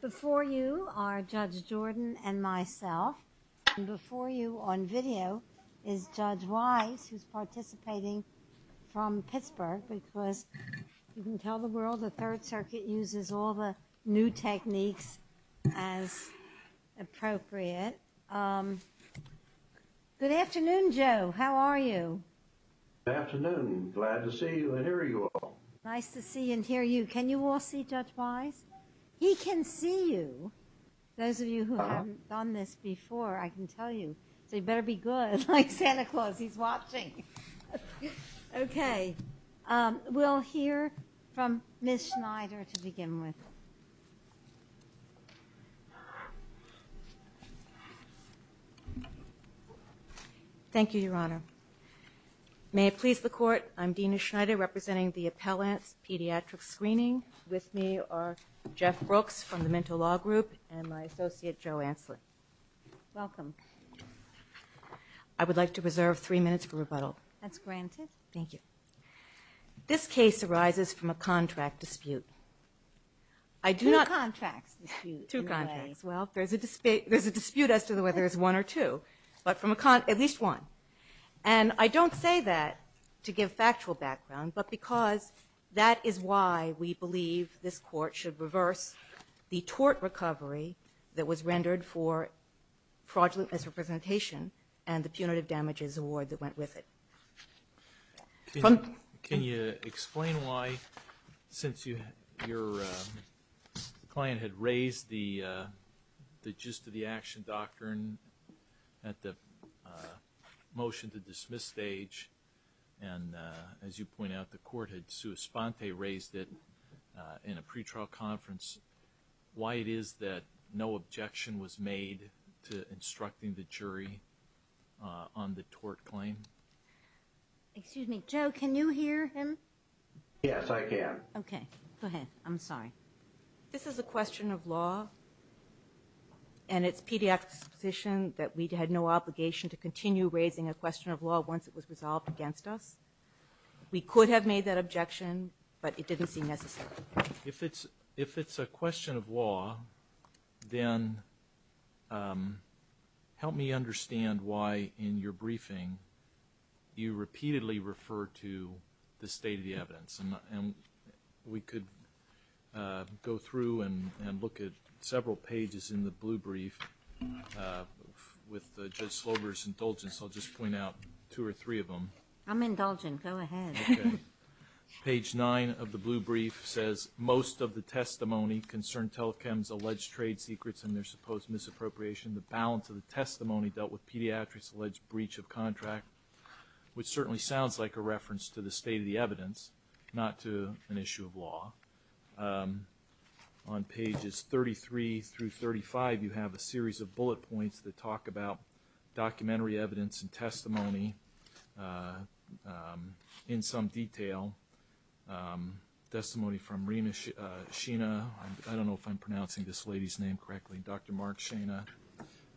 Before you are Judge Jordan and myself and before you on video is Judge Wise who's participating from Pittsburgh because you can tell the world the Third Circuit uses all the new techniques as appropriate. Good afternoon Joe, how are you? Good afternoon, glad to see you and hear you all. Nice to see and hear you. Can you all see Judge Wise? He can see you. Those of you who haven't done this before I can tell you so you better be good like Santa Claus he's watching. Okay we'll hear from Ms. Schneider to begin with. Thank you Your Honor. May it please the court I'm Dena Schneider representing the Appellant's Pediatric Screening. With me are Jeff Brooks from the Mental Law Group and my associate Joe Ansley. Welcome. I would like to reserve three minutes for rebuttal. That's granted. Thank you. This case arises from a contract dispute. I do not. Two contracts. Two contracts. Well there's a dispute as to whether it's one or two but from a con at least one and I don't say that to give factual background but because that is why we believe this court should reverse the tort recovery that was rendered for fraudulent misrepresentation and the punitive damages award that went with it. Can you explain why since you your client had raised the the gist of the action doctrine at the motion to as you point out the court had sua sponte raised it in a pretrial conference why it is that no objection was made to instructing the jury on the tort claim? Excuse me Joe can you hear him? Yes I can. Okay go ahead I'm sorry. This is a question of law and it's pediatrics position that we'd had no obligation to We could have made that objection but it didn't seem necessary. If it's a question of law then help me understand why in your briefing you repeatedly refer to the state of the evidence and we could go through and look at several pages in the blue brief with Judge Slover's indulgence. I'll just page 9 of the blue brief says most of the testimony concerned telechem's alleged trade secrets and their supposed misappropriation the balance of the testimony dealt with pediatrics alleged breach of contract which certainly sounds like a reference to the state of the evidence not to an issue of law. On pages 33 through 35 you have a series of bullet points that talk about in some detail testimony from Rina Sheena. I don't know if I'm pronouncing this lady's name correctly. Dr. Mark Sheena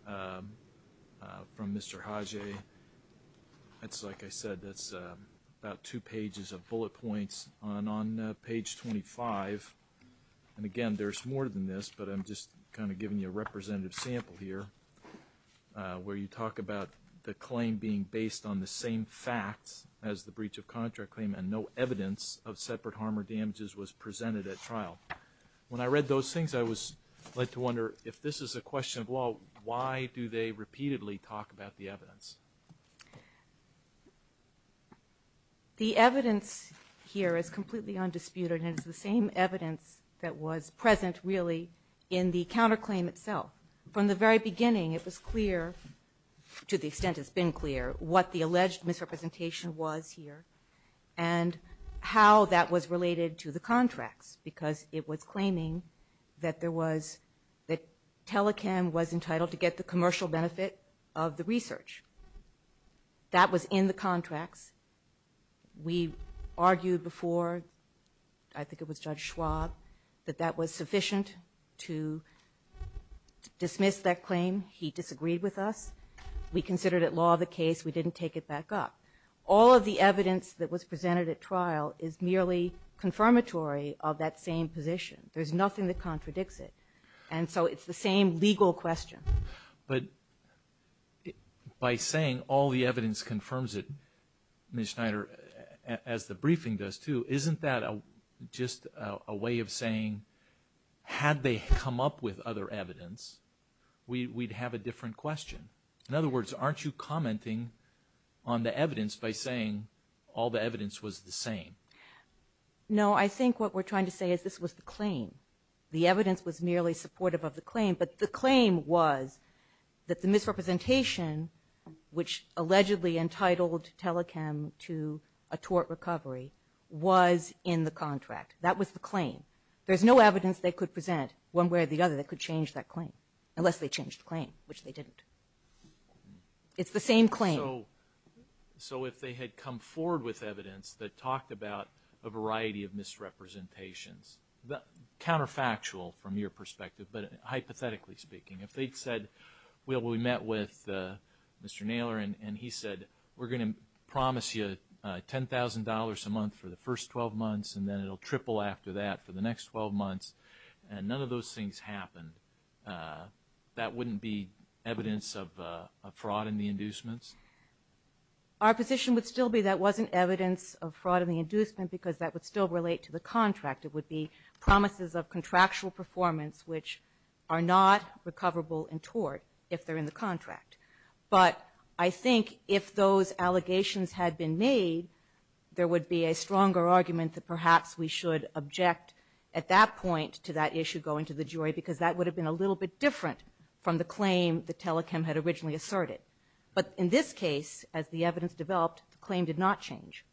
from Mr. Haji. That's like I said that's about two pages of bullet points on page 25 and again there's more than this but I'm just kind of giving you a representative sample here where you talk about the claim being based on the same facts as the breach of contract claim and no evidence of separate harm or damages was presented at trial. When I read those things I was led to wonder if this is a question of law why do they repeatedly talk about the evidence? The evidence here is completely undisputed and it's the same evidence that was present really in the to the extent it's been clear what the alleged misrepresentation was here and how that was related to the contracts because it was claiming that there was that telechem was entitled to get the commercial benefit of the research. That was in the contracts. We argued before I think it was Judge Schwab that that was we considered it law of the case we didn't take it back up. All of the evidence that was presented at trial is merely confirmatory of that same position. There's nothing that contradicts it and so it's the same legal question. But by saying all the evidence confirms it Ms. Schneider as the briefing does too isn't that a just a way of saying had they come up with other evidence we'd have a different question. In other words aren't you commenting on the evidence by saying all the evidence was the same? No I think what we're trying to say is this was the claim. The evidence was merely supportive of the claim but the claim was that the misrepresentation which allegedly entitled telechem to a tort recovery was in the contract. That was the claim. There's no evidence they could present one way or the other that could change that claim unless they changed the claim which they didn't. It's the same claim. So if they had come forward with evidence that talked about a variety of misrepresentations the counterfactual from your perspective but hypothetically speaking if they'd said well we met with Mr. Naylor and he said we're gonna promise you $10,000 a month for the first 12 months and then it'll triple after that for the next 12 months and none of those things happened that wouldn't be evidence of fraud in the inducements? Our position would still be that wasn't evidence of fraud in the inducement because that would still relate to the contract. It would be promises of contractual performance which are not recoverable in tort if they're in the contract. But I think if those allegations had been made there would be a stronger argument that perhaps we should object at that point to that issue going to the jury because that would have been a little bit different from the claim the telecam had originally asserted. But in this case as the evidence developed the claim did not change.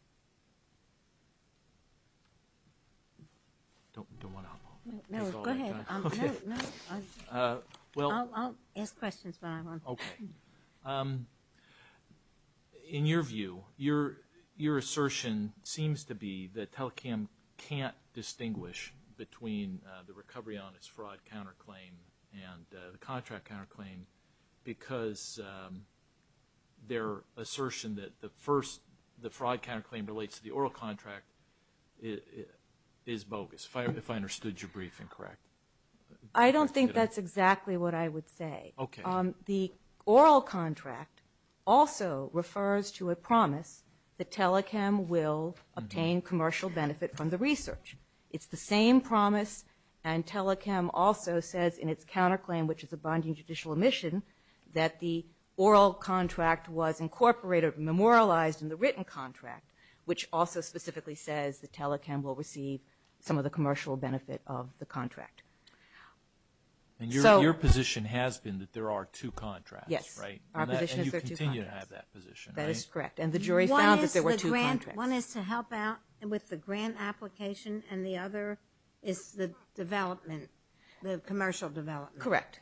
I'll ask questions. In your view your your assertion seems to be that telecam can't distinguish between the recovery on its fraud counterclaim and the contract counterclaim because their assertion that the first the fraud counterclaim relates to the oral contract is bogus. If I understood your briefing correct. I don't think that's exactly what I would say. Okay. The oral contract also refers to a promise that telecam will obtain commercial benefit from the research. It's the same promise and telecam also says in its counter claim which is a binding judicial omission that the oral contract was incorporated memorialized in the written contract which also specifically says the telecam will receive some of the commercial benefit of the contract. And your position has been that there are two contracts. Yes. That is correct and the jury found that there were two contracts. One is to help out and with the grant application and the other is the development the commercial development. Correct.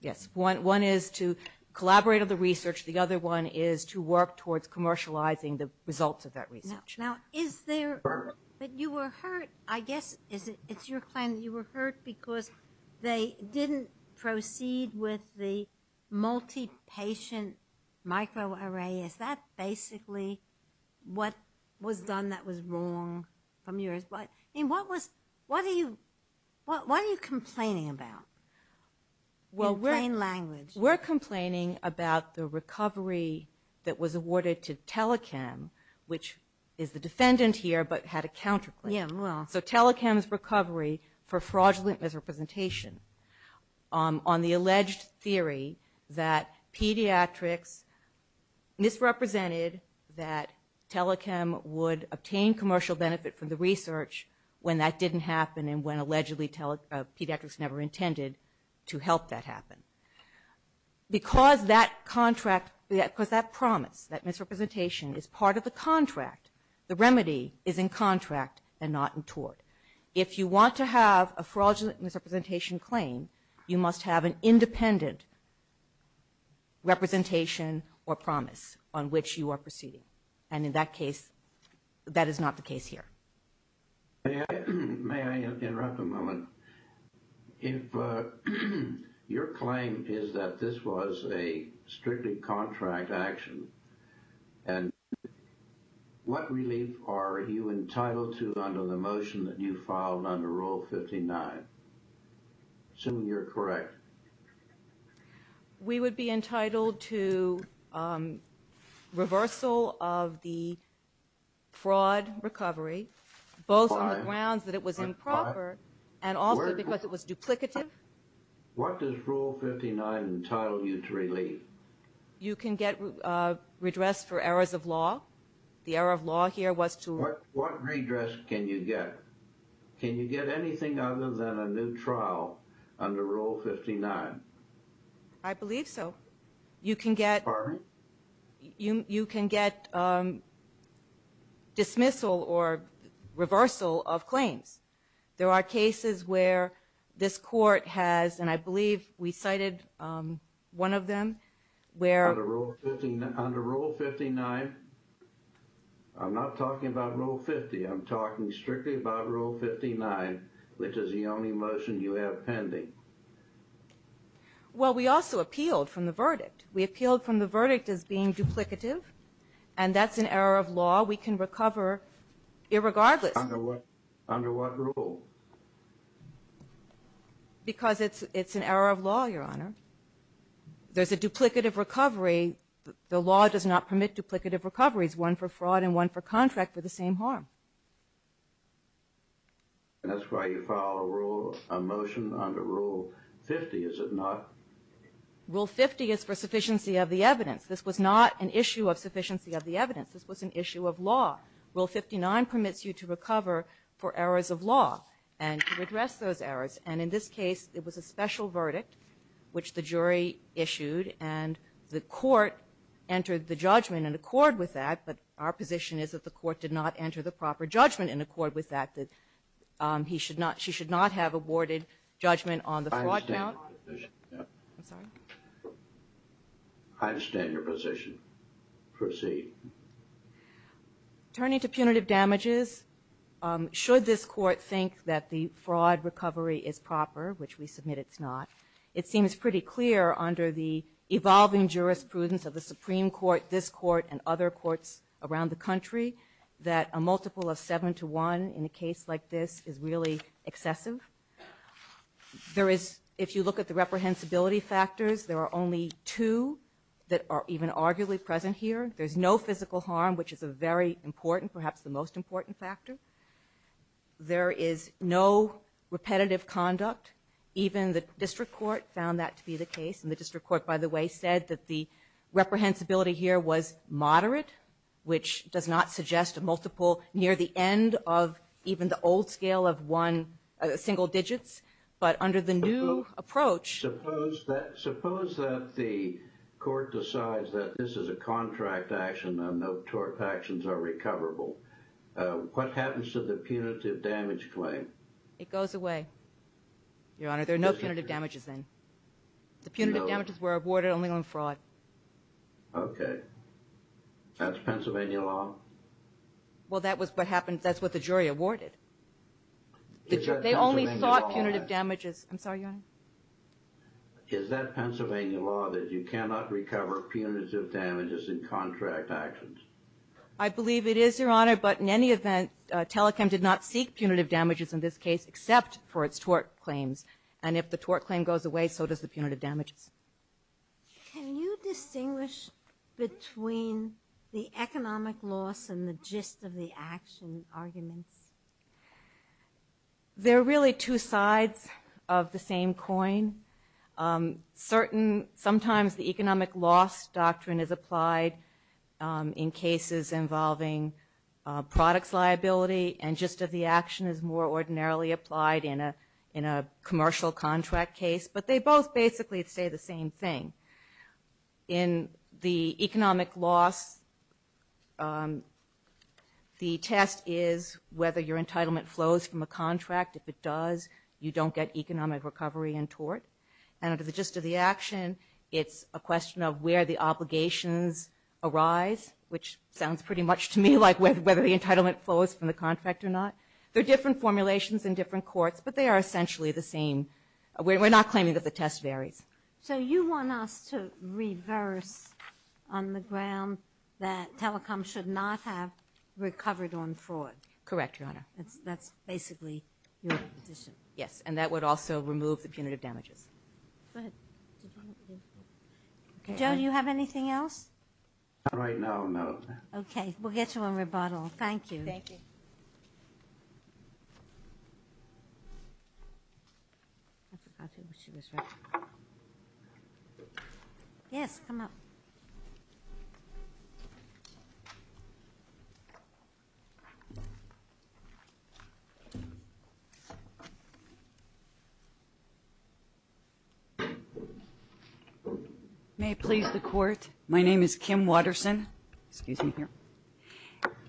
Yes. One is to collaborate on the research the other one is to work towards commercializing the results of that research. Now is there but you were hurt I guess is it it's your plan you were hurt because they didn't proceed with the multi-patient microarray. Is that basically what was done that was wrong from yours? But what was what are you what are you complaining about? Well we're complaining about the recovery that was awarded to telecam which is the defendant here but had a counter claim. So telecams recovery for fraudulent misrepresentation on the alleged theory that pediatrics misrepresented that telecam would obtain commercial benefit from the research when that didn't happen and when allegedly tell pediatrics never intended to help that happen. Because that contract because that promise that misrepresentation is part of the contract the remedy is in contract and not in tort. If you want to have a fraudulent misrepresentation claim you must have an independent representation or promise on which you are proceeding and in that case that is not the case here. May I interrupt a moment? If your claim is that this was a strictly contract action and what relief are you entitled to? We would be entitled to reversal of the fraud recovery both on the grounds that it was improper and also because it was duplicative. What does rule 59 entitle you to relief? You can get redress for errors of law. The error of law here was to... What redress can you get? Can you get anything other than a new trial under rule 59? I believe so. You can get dismissal or reversal of claims. There are cases where this court has, and I believe we cited one of them, where... I'm not talking about rule 50. I'm talking strictly about rule 59, which is the only motion you have pending. Well, we also appealed from the verdict. We appealed from the verdict as being duplicative and that's an error of law we can recover irregardless. Under what rule? Because it's an error of law, Your Honor. There's a duplicative recovery. The law does not permit duplicative recoveries. One for fraud and one for contract for the same harm. And that's why you file a rule, a motion under rule 50, is it not? Rule 50 is for sufficiency of the evidence. This was not an issue of sufficiency of the evidence. This was an issue of law. Rule 59 permits you to recover for errors of law and to redress those errors. And in this case, it was a special verdict, which the jury issued and the court entered the judgment in accord with that. But our position is that the court did not enter the proper judgment in accord with that. That he should not, she should not have awarded judgment on the fraud count. I understand your position. Proceed. Turning to punitive damages, should this court think that the fraud recovery is proper, which we submit it's not, it seems pretty clear under the evolving jurisprudence of the Supreme Court, this court, and other courts around the country, that a multiple of seven to one in a case like this is really excessive. There is, if you look at the reprehensibility factors, there are only two that are even arguably present here. There's no physical harm, which is a very important, perhaps the most important factor. There is no repetitive conduct. Even the district court found that to be the case. And the district court, by the way, said that the reprehensibility here was moderate, which does not suggest a multiple near the end of even the old scale of one, single digits. But under the new approach... Suppose that the court decides that this is a contract action and no tort actions are recoverable. What happens to the punitive damage claim? It goes away, Your Honor. There are no punitive damages then. The punitive damages were awarded only on fraud. Okay. That's Pennsylvania law? Well, that's what the jury awarded. They only sought punitive damages. Is that Pennsylvania law that you cannot recover punitive damages in contract actions? I believe it is, Your Honor. But in any event, Telechem did not seek punitive damages in this case, except for its tort claims. And if the tort claim goes away, so does the punitive damages. Can you distinguish between the economic loss and the gist of the action arguments? There are really two sides of the same coin. Certain, sometimes the economic loss doctrine is applied in cases involving products liability, and gist of the action is more ordinarily applied in a commercial contract case. But they both basically say the same thing. In the economic loss, the test is whether your entitlement flows from a contract. And under the gist of the action, it's a question of where the obligations arise, which sounds pretty much to me like whether the entitlement flows from the contract or not. There are different formulations in different courts, but they are essentially the same. We're not claiming that the test varies. So you want us to reverse on the ground that Telechem should not have recovered on fraud? Correct, Your Honor. Joe, do you have anything else? Yes, come up. May it please the Court, my name is Kim Watterson, excuse me here,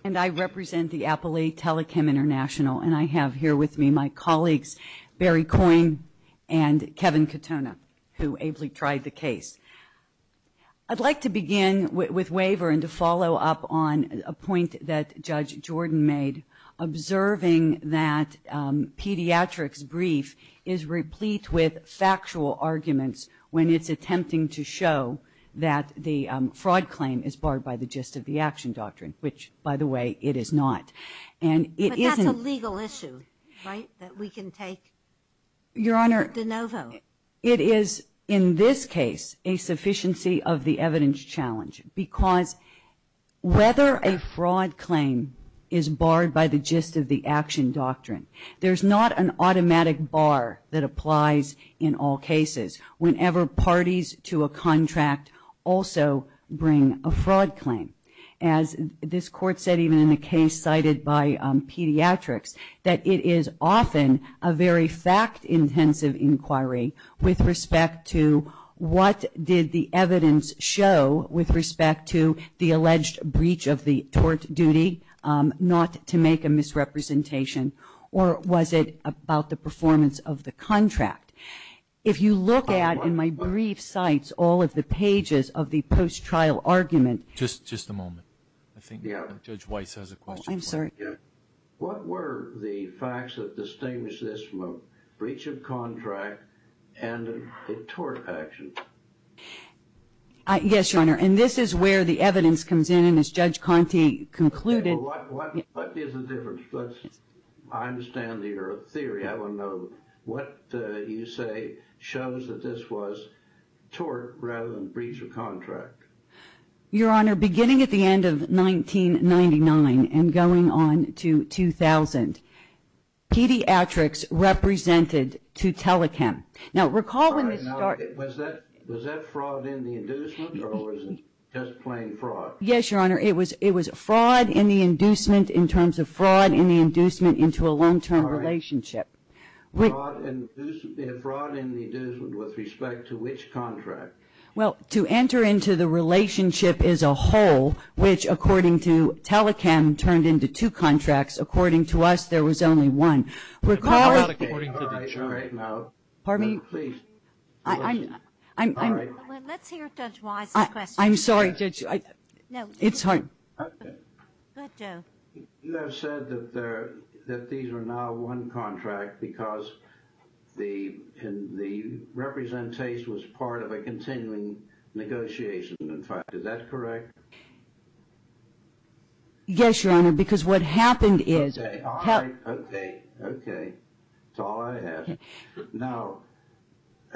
and I represent the Appali Telechem International, and I have here with me my colleagues, Barry Coyne and Kevin Katona, who ably tried the case. I'd like to begin with waiver and to follow up on a point that Judge Jordan made, observing that pediatrics brief is replete with factual arguments when it's attempting to show that the fraud claim is barred by the gist of the action doctrine, which, by the way, it is not. But that's a legal issue, right, that we can take de novo? Your Honor, it is in this case a sufficiency of the evidence challenge, because whether a fraud claim is barred by the gist of the action doctrine, there's not an automatic bar that applies in all cases, whenever parties to a contract also bring a fraud claim. As this Court said, even in the case cited by pediatrics, that it is often a very fact-intensive inquiry with respect to what did the evidence show with respect to the alleged breach of the tort duty, not to make a misrepresentation, or was it about the performance of the contract? If you look at, in my brief cites, all of the pages of the post-trial argument... Just a moment. I think Judge Weiss has a question. What were the facts that distinguish this from a breach of contract and a tort action? Yes, Your Honor, and this is where the evidence comes in, and as Judge Conte concluded... What is the difference? I understand your theory. I want to know what you say shows that this was tort rather than breach of contract. Your Honor, beginning at the end of 1999 and going on to 2000, pediatrics represented to telechem. Was that fraud in the inducement or was it just plain fraud? Yes, Your Honor, it was fraud in the inducement in terms of fraud in the inducement into a long-term relationship. Fraud in the inducement with respect to which contract? Well, to enter into the relationship as a whole, which, according to telechem, turned into two contracts. According to us, there was only one. Pardon me? Let's hear Judge Weiss's question. I'm sorry, Judge. It's hard. You have said that these are now one contract because the representation was part of a continuing negotiation. In fact, is that correct? Yes, Your Honor, because what happened is... Your Honor, the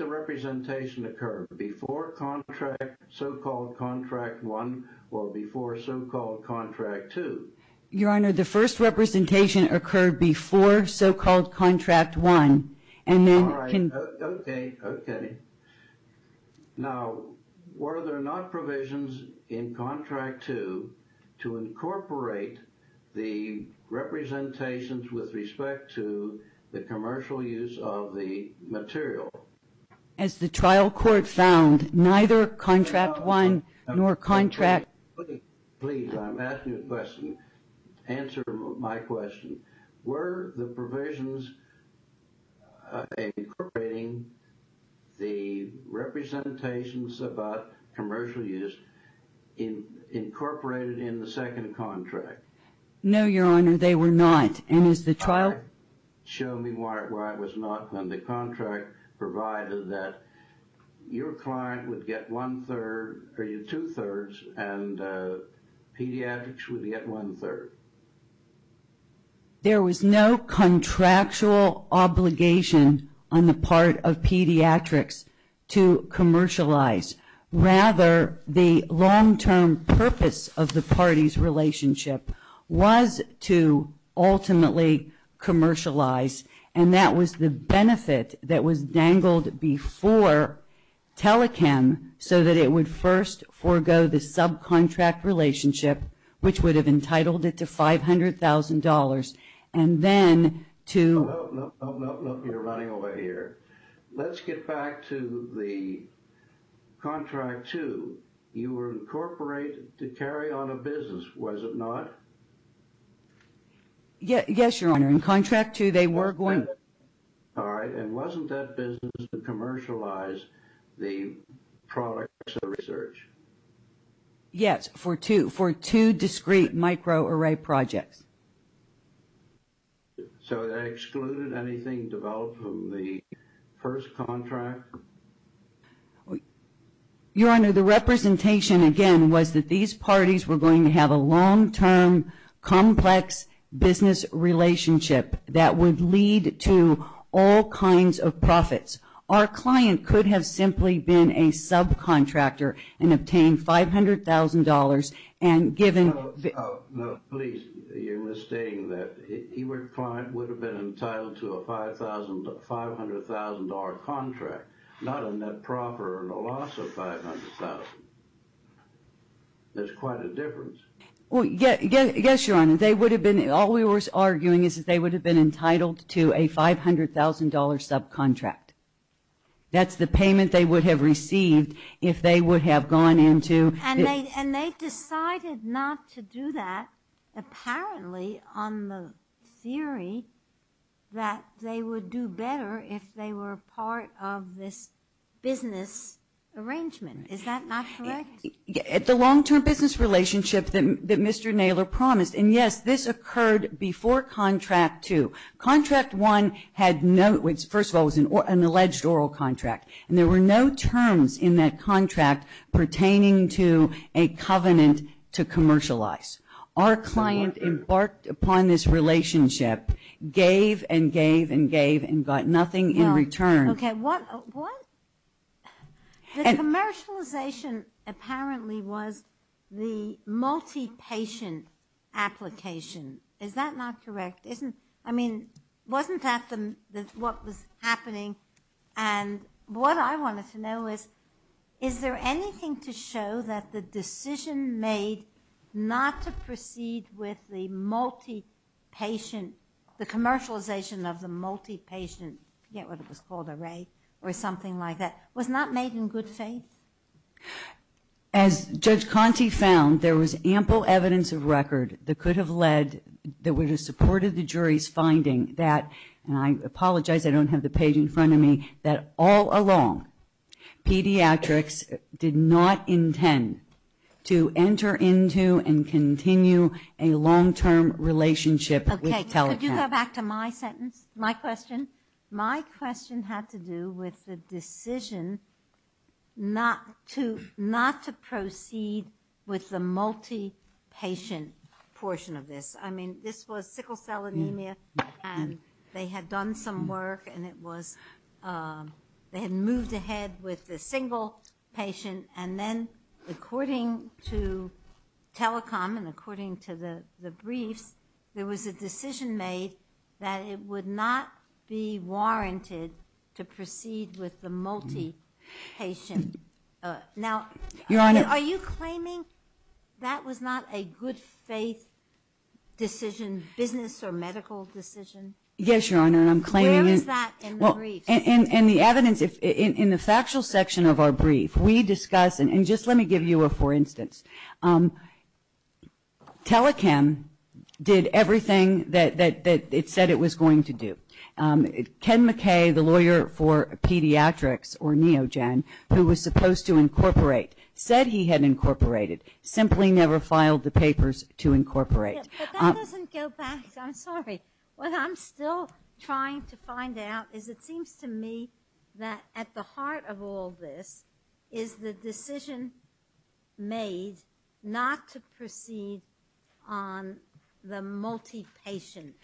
first representation occurred before so-called contract one. All right. Okay. Now, were there not provisions in contract two to incorporate the representations with respect to the commercial use of the material? As the trial court found, neither contract one nor contract... Please, I'm asking a question. Answer my question. Were the provisions incorporating the representations about commercial use incorporated in the second contract? No, Your Honor, they were not. The second contract provided that your client would get one-third, or two-thirds, and pediatrics would get one-third. There was no contractual obligation on the part of pediatrics to commercialize. Rather, the long-term purpose of the parties' relationship was to ultimately commercialize, and that was the benefit that was dangled before telechem so that it would first forego the subcontract relationship, which would have entitled it to $500,000, and then to... No, no, no, you're running away here. Let's get back to the contract two. You were incorporated to carry on a business, was it not? Yes, Your Honor, in contract two they were going... All right, and wasn't that business to commercialize the products of the research? Yes, for two discrete microarray projects. So that excluded anything developed from the first contract? Your Honor, the representation, again, was that these parties were going to have a long-term, complex business relationship that would lead to all kinds of profits. Our client could have simply been a subcontractor and obtained $500,000 and given... No, no, please, you're misstating that. Your client would have been entitled to a $500,000 contract, not a net profit or a loss of $500,000. There's quite a difference. Yes, Your Honor, all we were arguing is that they would have been entitled to a $500,000 subcontract. That's the payment they would have received if they would have gone into... And they decided not to do that, apparently, on the theory that they would do better if they were part of this business arrangement. Is that not correct? The long-term business relationship that Mr. Naylor promised, and yes, this occurred before contract two. Contract one had no... First of all, it was an alleged oral contract. And there were no terms in that contract pertaining to a covenant to commercialize. Our client embarked upon this relationship, gave and gave and gave, and got nothing in return. The commercialization apparently was the multi-patient application. Is that not correct? And wasn't that what was happening? And what I wanted to know is, is there anything to show that the decision made not to proceed with the multi-patient, the commercialization of the multi-patient, I forget what it was called, array, or something like that, was not made in good faith? As Judge Conte found, there was ample evidence of record that could have led... that would have supported the jury's finding that, and I apologize, I don't have the page in front of me, that all along, pediatrics did not intend to enter into and continue a long-term relationship with telehealth. Okay, could you go back to my sentence, my question? My question had to do with the decision not to proceed with the multi-patient portion of this. I mean, this was sickle cell anemia, and they had done some work, and it was... they had moved ahead with the single patient, and then according to telecom, and according to the briefs, there was a decision made that it would not be warranted to proceed with the multi-patient. Now, are you claiming that was not a good faith decision, business or medical decision? Yes, Your Honor, and I'm claiming... Where is that in the briefs? In the factual section of our brief, we discuss, and just let me give you a, for instance, telechem did everything that it said it was going to do. Ken McKay, the lawyer for pediatrics, or NeoGen, who was supposed to incorporate, said he had incorporated, simply never filed the papers to incorporate. But that doesn't go back, I'm sorry, what I'm still trying to find out is it seems to me that at the heart of all this, is the decision made not to proceed on the multi-patient,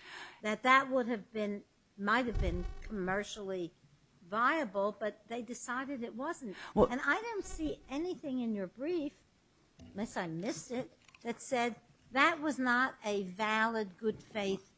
that that would have been, might have been commercially viable, but they decided it wasn't. And I don't see anything in your brief, unless I missed it, that said that was not a valid good faith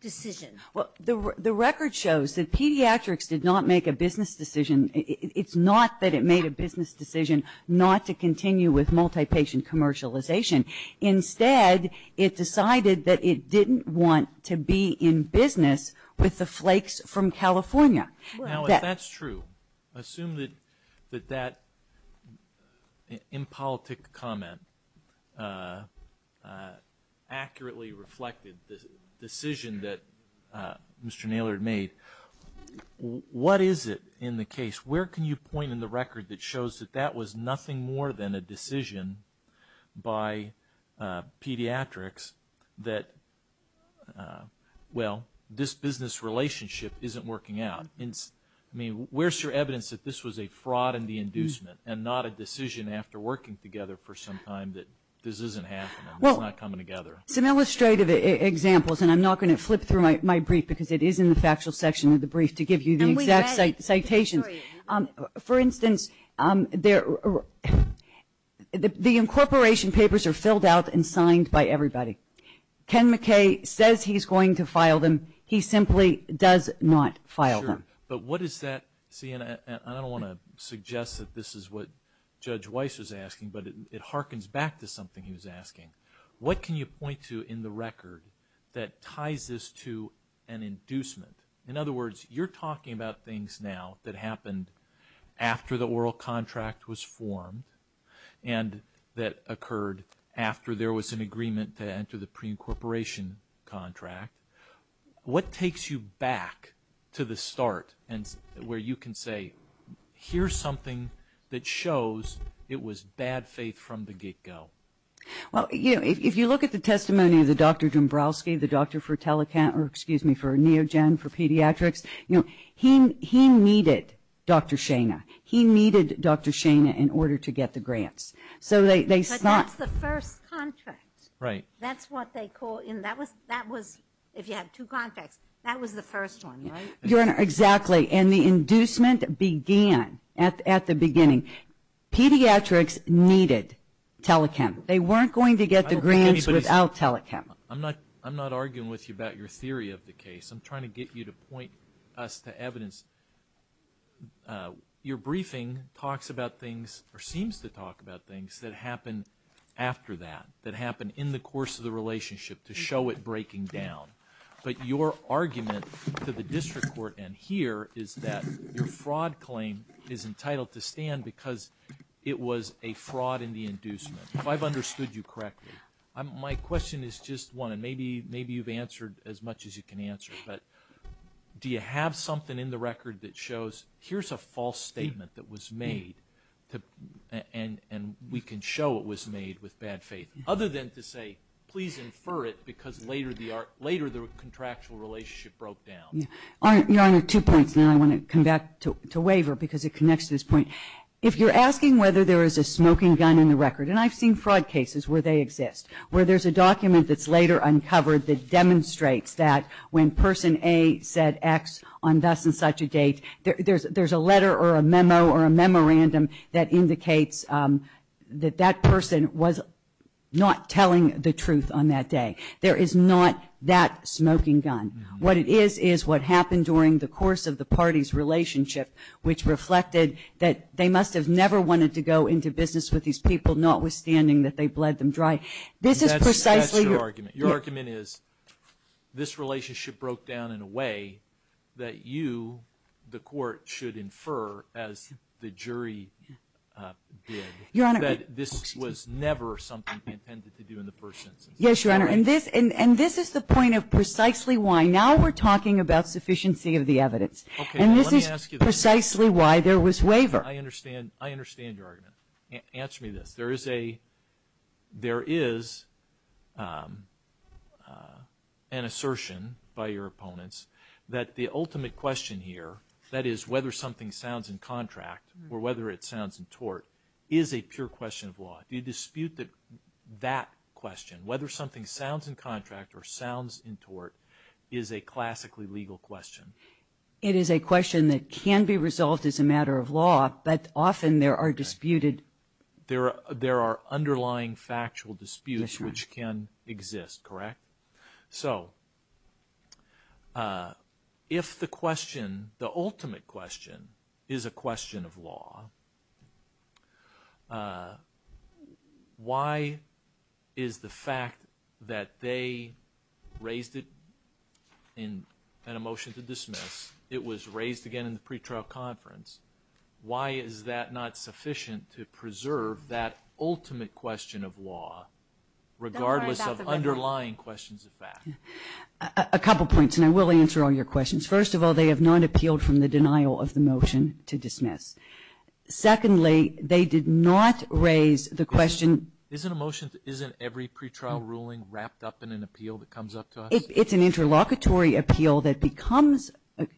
decision. Well, the record shows that pediatrics did not make a business decision, it's not that it made a business decision not to continue with multi-patient commercialization. Instead, it decided that it didn't want to be in business with the flakes from California. Now, if that's true, assume that that impolitic comment accurately reflected the decision that Mr. Naylor made, what is it in the case? Where can you point in the record that shows that that was nothing more than a decision by pediatrics that, well, this business relationship isn't working out? I mean, where's your evidence that this was a fraud in the inducement, and not a decision after working together for some time that this isn't happening, it's not coming together? Well, some illustrative examples, and I'm not going to flip through my brief, because it is in the factual section of the brief to give you the exact citations. For instance, the incorporation papers are filled out and signed by everybody. Ken McKay says he's going to file them, he simply does not file them. Sure, but what is that, see, and I don't want to suggest that this is what Judge Weiss was asking, but it harkens back to something he was asking. What can you point to in the record that ties this to an inducement? In other words, you're talking about things now that happened after the oral contract was formed, and that occurred after there was an agreement to enter the pre-incorporation contract. What takes you back to the start where you can say, here's something that shows it was bad faith from the get-go? Well, you know, if you look at the testimony of the Dr. Dombrowski, the doctor for telehealth, or, excuse me, for neogen, for pediatrics, you know, he needed Dr. Shana. He needed Dr. Shana in order to get the grants. But that's the first contract. That's what they call, if you have two contracts, that was the first one, right? Your Honor, exactly, and the inducement began at the beginning. Pediatrics needed telechem. They weren't going to get the grants without telechem. I'm not arguing with you about your theory of the case. I'm trying to get you to point us to evidence. Your briefing talks about things, or seems to talk about things, that happened after that, that happened in the course of the relationship, to show it breaking down. But your argument to the district court and here is that your fraud claim is entitled to stand because it was a fraud in the inducement. If I've understood you correctly, my question is just one, and maybe you've answered as much as you can answer. But do you have something in the record that shows here's a false statement that was made, and we can show it was made with bad faith? Other than to say, please infer it because later the contractual relationship broke down. Your Honor, two points. Now I want to come back to waiver because it connects to this point. If you're asking whether there is a smoking gun in the record, and I've seen fraud cases where they exist, where there's a document that's later uncovered that demonstrates that when person A said X on thus and such a date, there's a letter or a memo or a memorandum that indicates that that person was not telling the truth on that day. There is not that smoking gun. What it is, is what happened during the course of the party's relationship, which reflected that they must have never wanted to go into business with these people, notwithstanding that they bled them dry. Your argument is this relationship broke down in a way that you, the court, should infer as the jury did. That this was never something intended to do in the first instance. Yes, Your Honor. And this is the point of precisely why. Now we're talking about sufficiency of the evidence. And this is precisely why there was waiver. I understand your argument. Answer me this. There is an assertion by your opponents that the ultimate question here, that is whether something sounds in contract or whether it sounds in tort, is a pure question of law. Do you dispute that question? Whether something sounds in contract or sounds in tort is a classically legal question? It is a question that can be resolved as a matter of law, but often there are disputed... There are underlying factual disputes which can exist, correct? So, if the question, the ultimate question, is a question of law, why is the fact that they raised it in a motion to dismiss, it was raised again in the pretrial conference, why is that not sufficient to preserve that ultimate question of law, regardless of underlying questions of fact? A couple points, and I will answer all your questions. First of all, they have not appealed from the denial of the motion to dismiss. Secondly, they did not raise the question... Isn't a motion, isn't every pretrial ruling wrapped up in an appeal that comes up to us? It's an interlocutory appeal that becomes...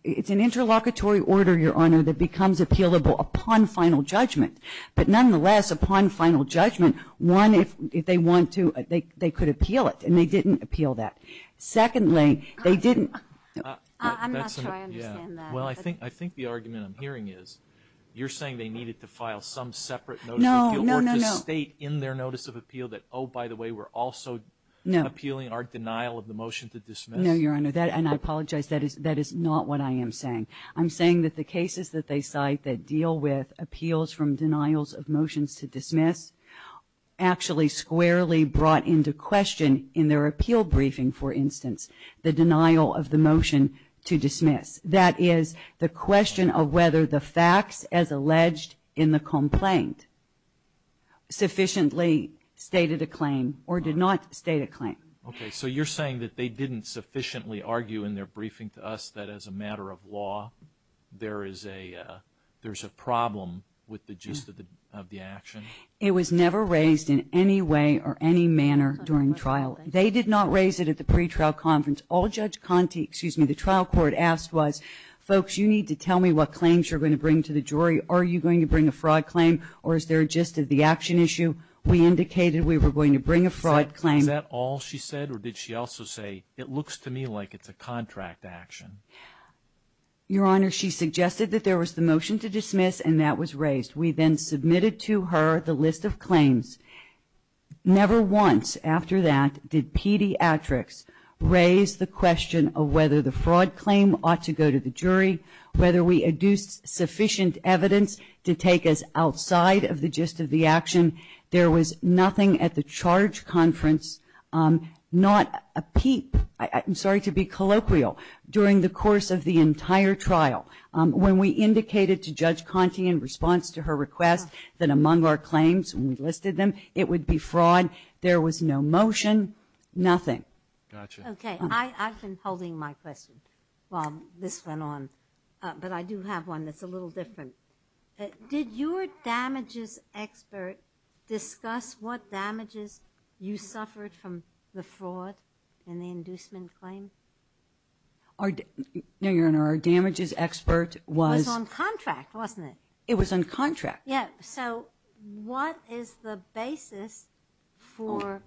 It's an interlocutory order, Your Honor, that becomes appealable upon final judgment. But nonetheless, upon final judgment, one, if they want to, they could appeal it, and they didn't appeal that. Secondly, they didn't... I'm not sure I understand that. Well, I think the argument I'm hearing is you're saying they needed to file some separate notice of appeal... No, no, no, no. ...or to state in their notice of appeal that, oh, by the way, we're also appealing our denial of the motion to dismiss. No, Your Honor, and I apologize, that is not what I am saying. I'm saying that the cases that they cite that deal with appeals from denials of motions to dismiss, actually squarely brought into question in their appeal briefing, for instance, the denial of the motion to dismiss. That is, the question of whether the facts as alleged in the complaint sufficiently stated a claim or did not state a claim. Okay, so you're saying that they didn't sufficiently argue in their briefing to us that as a matter of law, there is a problem with the gist of the action? It was never raised in any way or any manner during trial. They did not raise it at the pretrial conference. All Judge Conte, excuse me, the trial court asked was, folks, you need to tell me what claims you're going to bring to the jury. Are you going to bring a fraud claim, or is there a gist of the action issue? We indicated we were going to bring a fraud claim. Is that all she said, or did she also say, it looks to me like it's a contract action? Your Honor, she suggested that there was the motion to dismiss, and that was raised. We then submitted to her the list of claims. Never once after that did pediatrics raise the question of whether the fraud claim ought to go to the jury, whether we adduced sufficient evidence to take us outside of the gist of the action. There was nothing at the charge conference, not a peep, I'm sorry to be colloquial, during the course of the entire trial. When we indicated to Judge Conte in response to her request that among our claims, when we listed them, it would be fraud, there was no motion, nothing. Okay. I've been holding my question while this went on, but I do have one that's a little different. Did your damages expert discuss what damages you suffered from the fraud in the inducement claim? No, Your Honor, our damages expert was... It was on contract, wasn't it? It was on contract. Yeah, so what is the basis for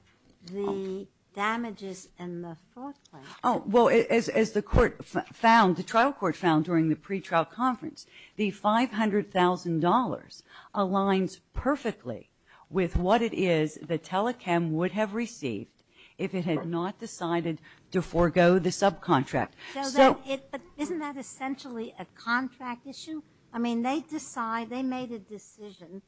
the damages in the fraud claim? Oh, well, as the court found, the trial court found during the pretrial conference, the $500,000 aligns perfectly with what it is the telechem would have received if it had not decided to forego the subcontract. But isn't that essentially a contract issue? I mean, they decide, they made a decision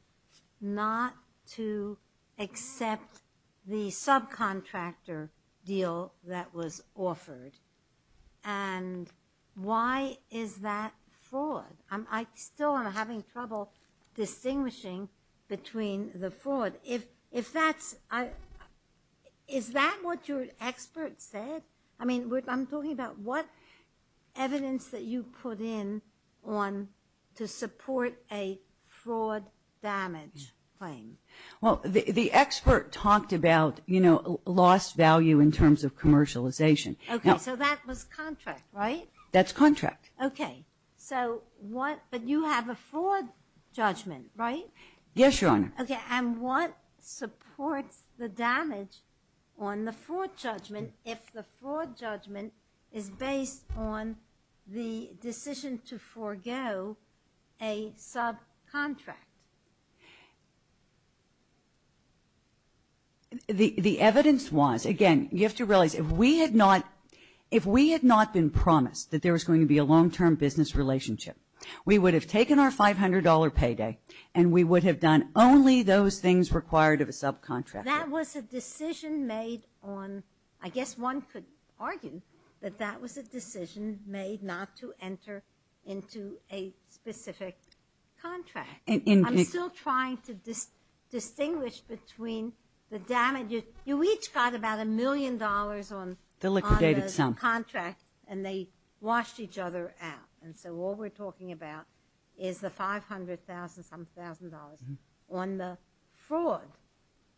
not to accept the subcontractor deal that was offered. And why is that fraud? I still am having trouble distinguishing between the fraud. But if that's, is that what your expert said? I mean, I'm talking about what evidence that you put in on to support a fraud damage claim. Well, the expert talked about, you know, lost value in terms of commercialization. Okay, so that was contract, right? That's contract. Okay, so what, but you have a fraud judgment, right? Yes, Your Honor. Okay, and what supports the damage on the fraud judgment if the fraud judgment is based on the decision to forego a subcontract? The evidence was, again, you have to realize, if we had not, if we had not been promised that there was going to be a long-term business relationship, we would have taken our $500 payday and we would have done only those things required of a subcontractor. That was a decision made on, I guess one could argue that that was a decision made not to enter into a specific contract. I'm still trying to distinguish between the damage, you each got about a million dollars on the contract. The liquidated sum. Subcontract, and they washed each other out. And so what we're talking about is the $500,000, some $1,000 on the fraud.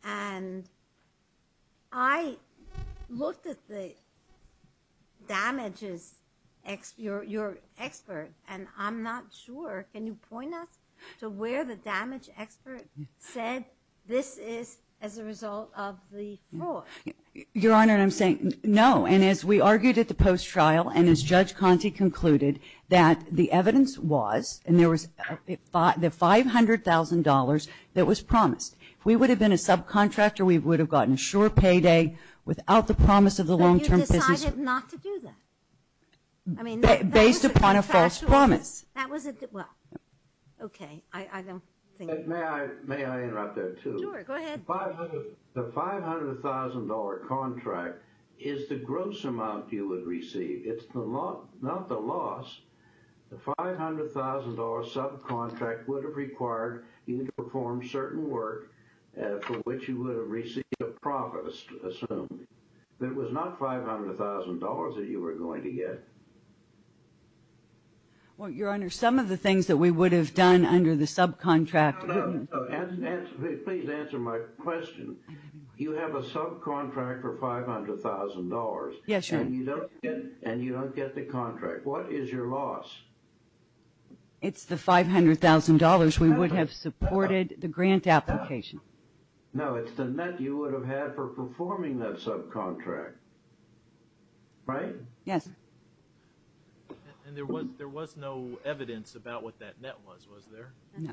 And I looked at the damages, your expert, and I'm not sure, can you point us to where the damage expert said this is as a result of the fraud? Your Honor, I'm saying no, and as we argued at the post-trial, and as Judge Conte concluded, that the evidence was, and there was the $500,000 that was promised. If we would have been a subcontractor, we would have gotten a short payday without the promise of the long-term business. But you decided not to do that. Based upon a false promise. That was a contractual, that was a, well, okay, I don't think. May I interrupt there too? Sure, go ahead. The $500,000 contract is the gross amount you would receive. It's not the loss. The $500,000 subcontract would have required you to perform certain work for which you would have received a profit, assumed. But it was not $500,000 that you were going to get. Well, Your Honor, some of the things that we would have done under the subcontract. Please answer my question. You have a subcontract for $500,000. Yes, Your Honor. And you don't get the contract. What is your loss? It's the $500,000 we would have supported the grant application. No, it's the net you would have had for performing that subcontract. Right? Yes. And there was no evidence about what that net was, was there? No.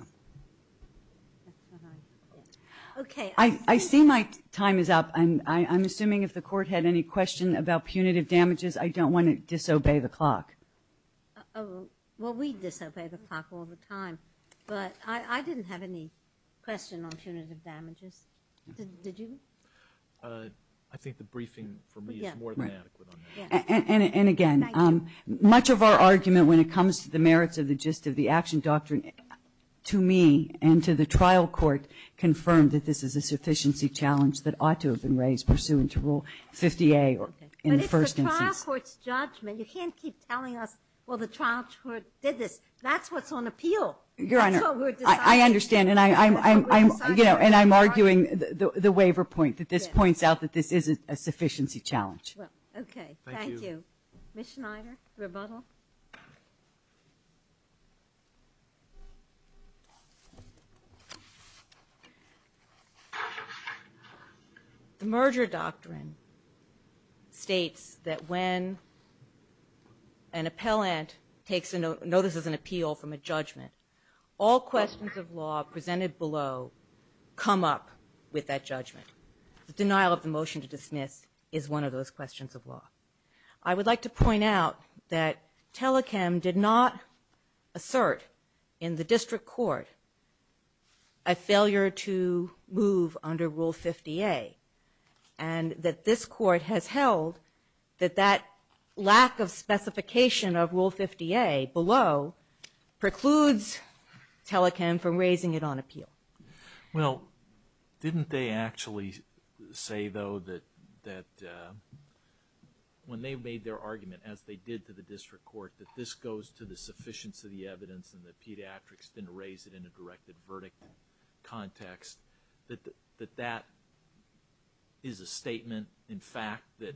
Okay. I see my time is up. I'm assuming if the Court had any question about punitive damages, I don't want to disobey the clock. Well, we disobey the clock all the time. But I didn't have any question on punitive damages. Did you? I think the briefing for me is more than adequate on that. And again, much of our argument when it comes to the merits of the gist of the action doctrine, to me and to the trial court, confirmed that this is a sufficiency challenge that ought to have been raised pursuant to Rule 50A in the first instance. But it's the trial court's judgment. You can't keep telling us, well, the trial court did this. That's what's on appeal. Your Honor, I understand. And I'm arguing the waiver point, that this points out that this isn't a sufficiency challenge. Okay. Thank you. Ms. Schneider, rebuttal. The merger doctrine states that when an appellant notices an appeal from a judgment, all questions of law presented below come up with that judgment. The denial of the motion to dismiss is one of those questions of law. I would like to point out that Telechem did not assert in the district court a failure to move under Rule 50A, and that this court has held that that lack of specification of Rule 50A below precludes Telechem from raising it on appeal. Well, didn't they actually say, though, that when they made their argument, as they did to the district court, that this goes to the sufficiency of the evidence and the pediatrics didn't raise it in a directed verdict context, that that is a statement, in fact, that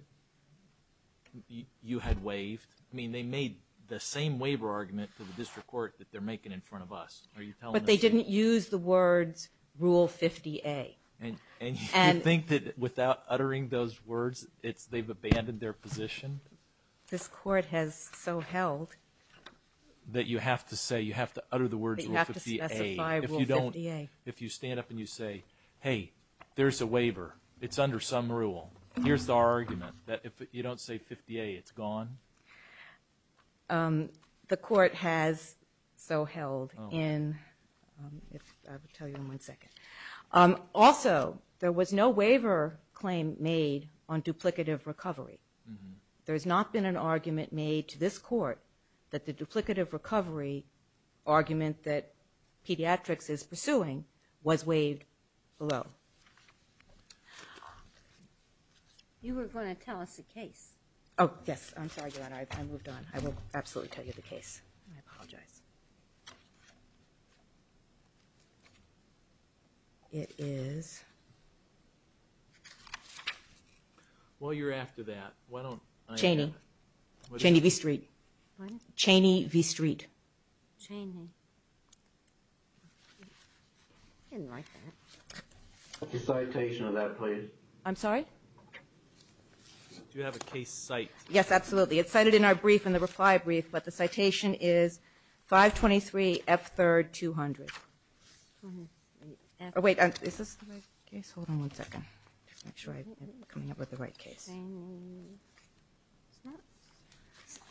you had waived? I mean, they made the same waiver argument to the district court that they're making in front of us. Are you telling us that? But they didn't use the words Rule 50A. And you think that without uttering those words, they've abandoned their position? This court has so held. That you have to say, you have to utter the words Rule 50A. They have to specify Rule 50A. If you don't, if you stand up and you say, hey, there's a waiver, it's under some rule, here's the argument, that if you don't say 50A, it's gone? The court has so held in, I will tell you in one second. Also, there was no waiver claim made on duplicative recovery. There has not been an argument made to this court that the duplicative recovery argument that pediatrics is pursuing was waived below. You were going to tell us the case. Oh, yes. I'm sorry, Your Honor. I moved on. I will absolutely tell you the case. I apologize. It is... Well, you're after that. Why don't I... Cheney. Cheney v. Street. What? Cheney v. Street. Cheney. I didn't write that. Put your citation on that, please. I'm sorry? Do you have a case cite? Yes, absolutely. It's cited in our brief, in the reply brief, but the citation is 523F3200. Wait, is this the right case? Hold on one second. Just make sure I'm coming up with the right case.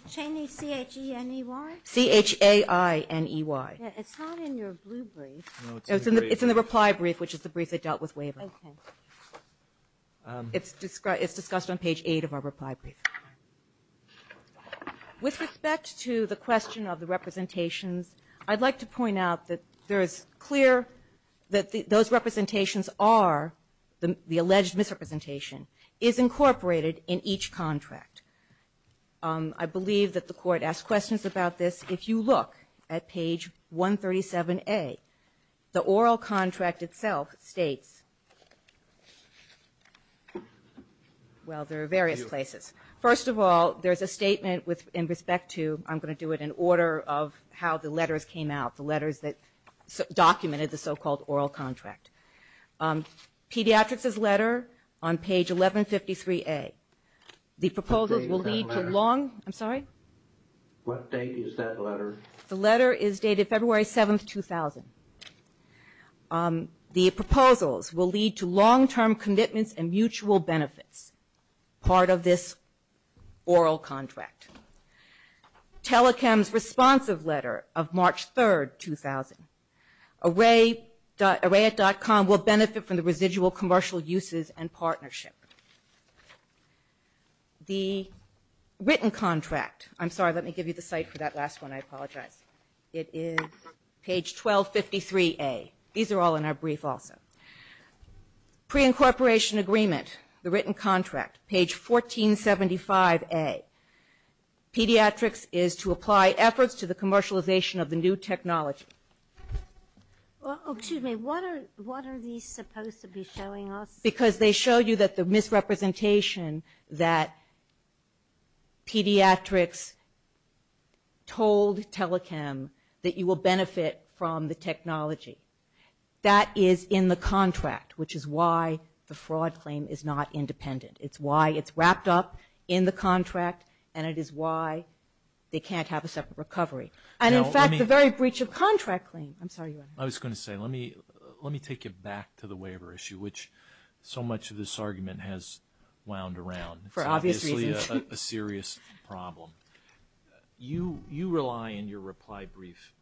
Cheney, C-H-E-N-E-Y? C-H-A-I-N-E-Y. It's not in your blue brief. It's in the reply brief, which is the brief that dealt with waiver. Okay. It's discussed on page 8 of our reply brief. With respect to the question of the representations, I'd like to point out that there is clear that those representations are the alleged misrepresentation is incorporated in each contract. I believe that the Court asked questions about this. If you look at page 137A, the oral contract itself states, well, there are various places. First of all, there's a statement in respect to, I'm going to do it in order of how the letters came out, the letters that documented the so-called oral contract. Pediatrics' letter on page 1153A. The proposals will lead to long – I'm sorry? What date is that letter? The letter is dated February 7, 2000. The proposals will lead to long-term commitments and mutual benefits, part of this oral contract. Telechem's responsive letter of March 3, 2000. Array.com will benefit from the residual commercial uses and partnership. The written contract – I'm sorry, let me give you the site for that last one. I apologize. It is page 1253A. These are all in our brief also. Preincorporation agreement, the written contract, page 1475A. Pediatrics is to apply efforts to the commercialization of the new technology. Excuse me, what are these supposed to be showing us? Because they show you that the misrepresentation that pediatrics told Telechem that you will benefit from the technology. That is in the contract, which is why the fraud claim is not independent. It's why it's wrapped up in the contract, and it is why they can't have a separate recovery. And, in fact, the very breach of contract claim – I'm sorry, Your Honor. I was going to say, let me take you back to the waiver issue, which so much of this argument has wound around. For obvious reasons. It's obviously a serious problem. You rely in your reply brief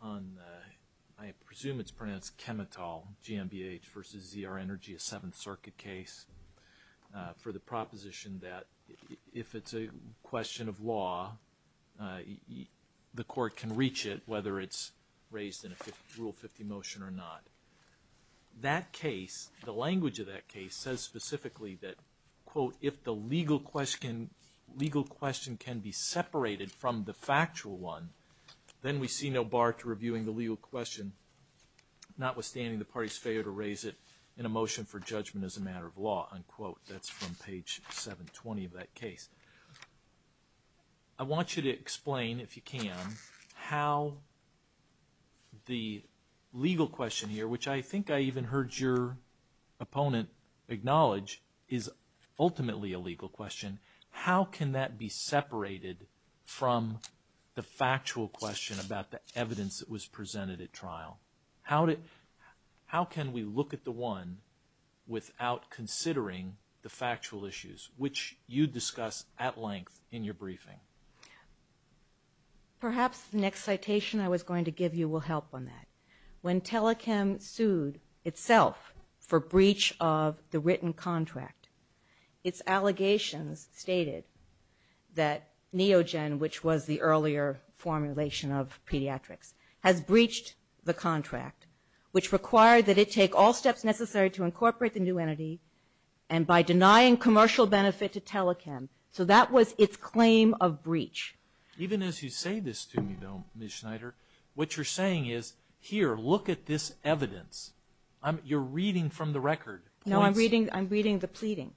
on – I presume it's pronounced Chemitol, GMBH versus ZR Energy, a Seventh Circuit case, for the proposition that if it's a question of law, the court can reach it, whether it's raised in a Rule 50 motion or not. That case, the language of that case says specifically that, quote, if the legal question can be separated from the factual one, then we see no bar to reviewing the legal question, notwithstanding the party's failure to raise it in a motion for judgment as a matter of law, unquote. That's from page 720 of that case. I want you to explain, if you can, how the legal question here, which I think I even heard your opponent acknowledge, is ultimately a legal question. How can that be separated from the factual question about the evidence that was presented at trial? How can we look at the one without considering the factual issues, which you discuss at length in your briefing? Perhaps the next citation I was going to give you will help on that. When telechem sued itself for breach of the written contract, its allegations stated that Neogen, which was the earlier formulation of pediatrics, has breached the contract, which required that it take all steps necessary to incorporate the new entity, and by denying commercial benefit to telechem. So that was its claim of breach. Even as you say this to me, though, Ms. Schneider, what you're saying is, here, look at this evidence. You're reading from the record. No, I'm reading the pleading.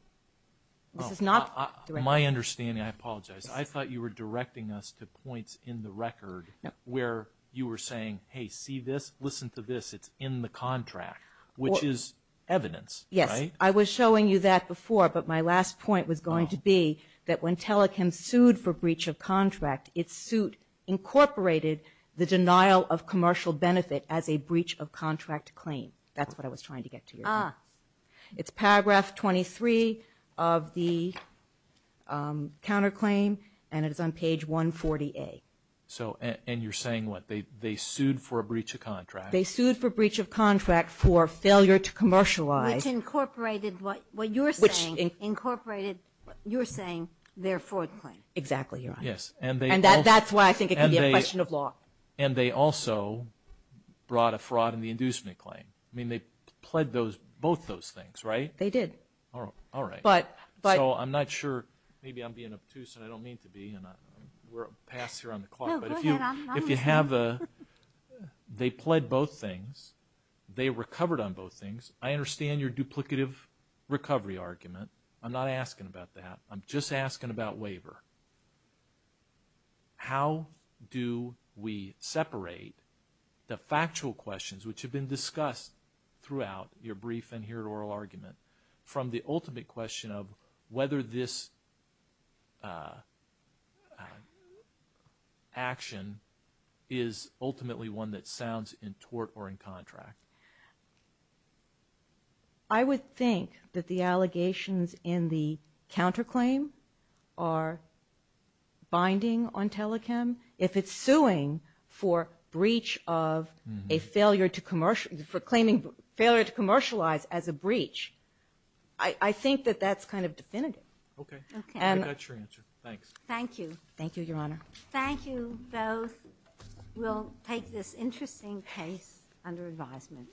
My understanding, I apologize. I thought you were directing us to points in the record where you were saying, hey, see this? Listen to this. It's in the contract, which is evidence, right? Yes. I was showing you that before, but my last point was going to be that when telechem sued for breach of contract, its suit incorporated the denial of commercial benefit as a breach of contract claim. That's what I was trying to get to. It's paragraph 23 of the counterclaim, and it is on page 140A. And you're saying what? They sued for a breach of contract? They sued for breach of contract for failure to commercialize. Which incorporated what you're saying. Which incorporated what you're saying, their fraud claim. Exactly, Your Honor. And that's why I think it can be a question of law. And they also brought a fraud in the inducement claim. I mean, they pled both those things, right? They did. All right. So I'm not sure. Maybe I'm being obtuse, and I don't mean to be, and we're past here on the clock. No, go ahead. If you have a they pled both things, they recovered on both things. I understand your duplicative recovery argument. I'm not asking about that. I'm just asking about waiver. How do we separate the factual questions, which have been discussed throughout your brief and here oral argument, from the ultimate question of whether this action is ultimately one that sounds in tort or in contract? I would think that the allegations in the counterclaim are binding on telechem. If it's suing for breach of a failure to commercialize as a breach, I think that that's kind of definitive. Okay. Okay. That's your answer. Thanks. Thank you. Thank you, Your Honor. Thank you both. We'll take this interesting case under advisement.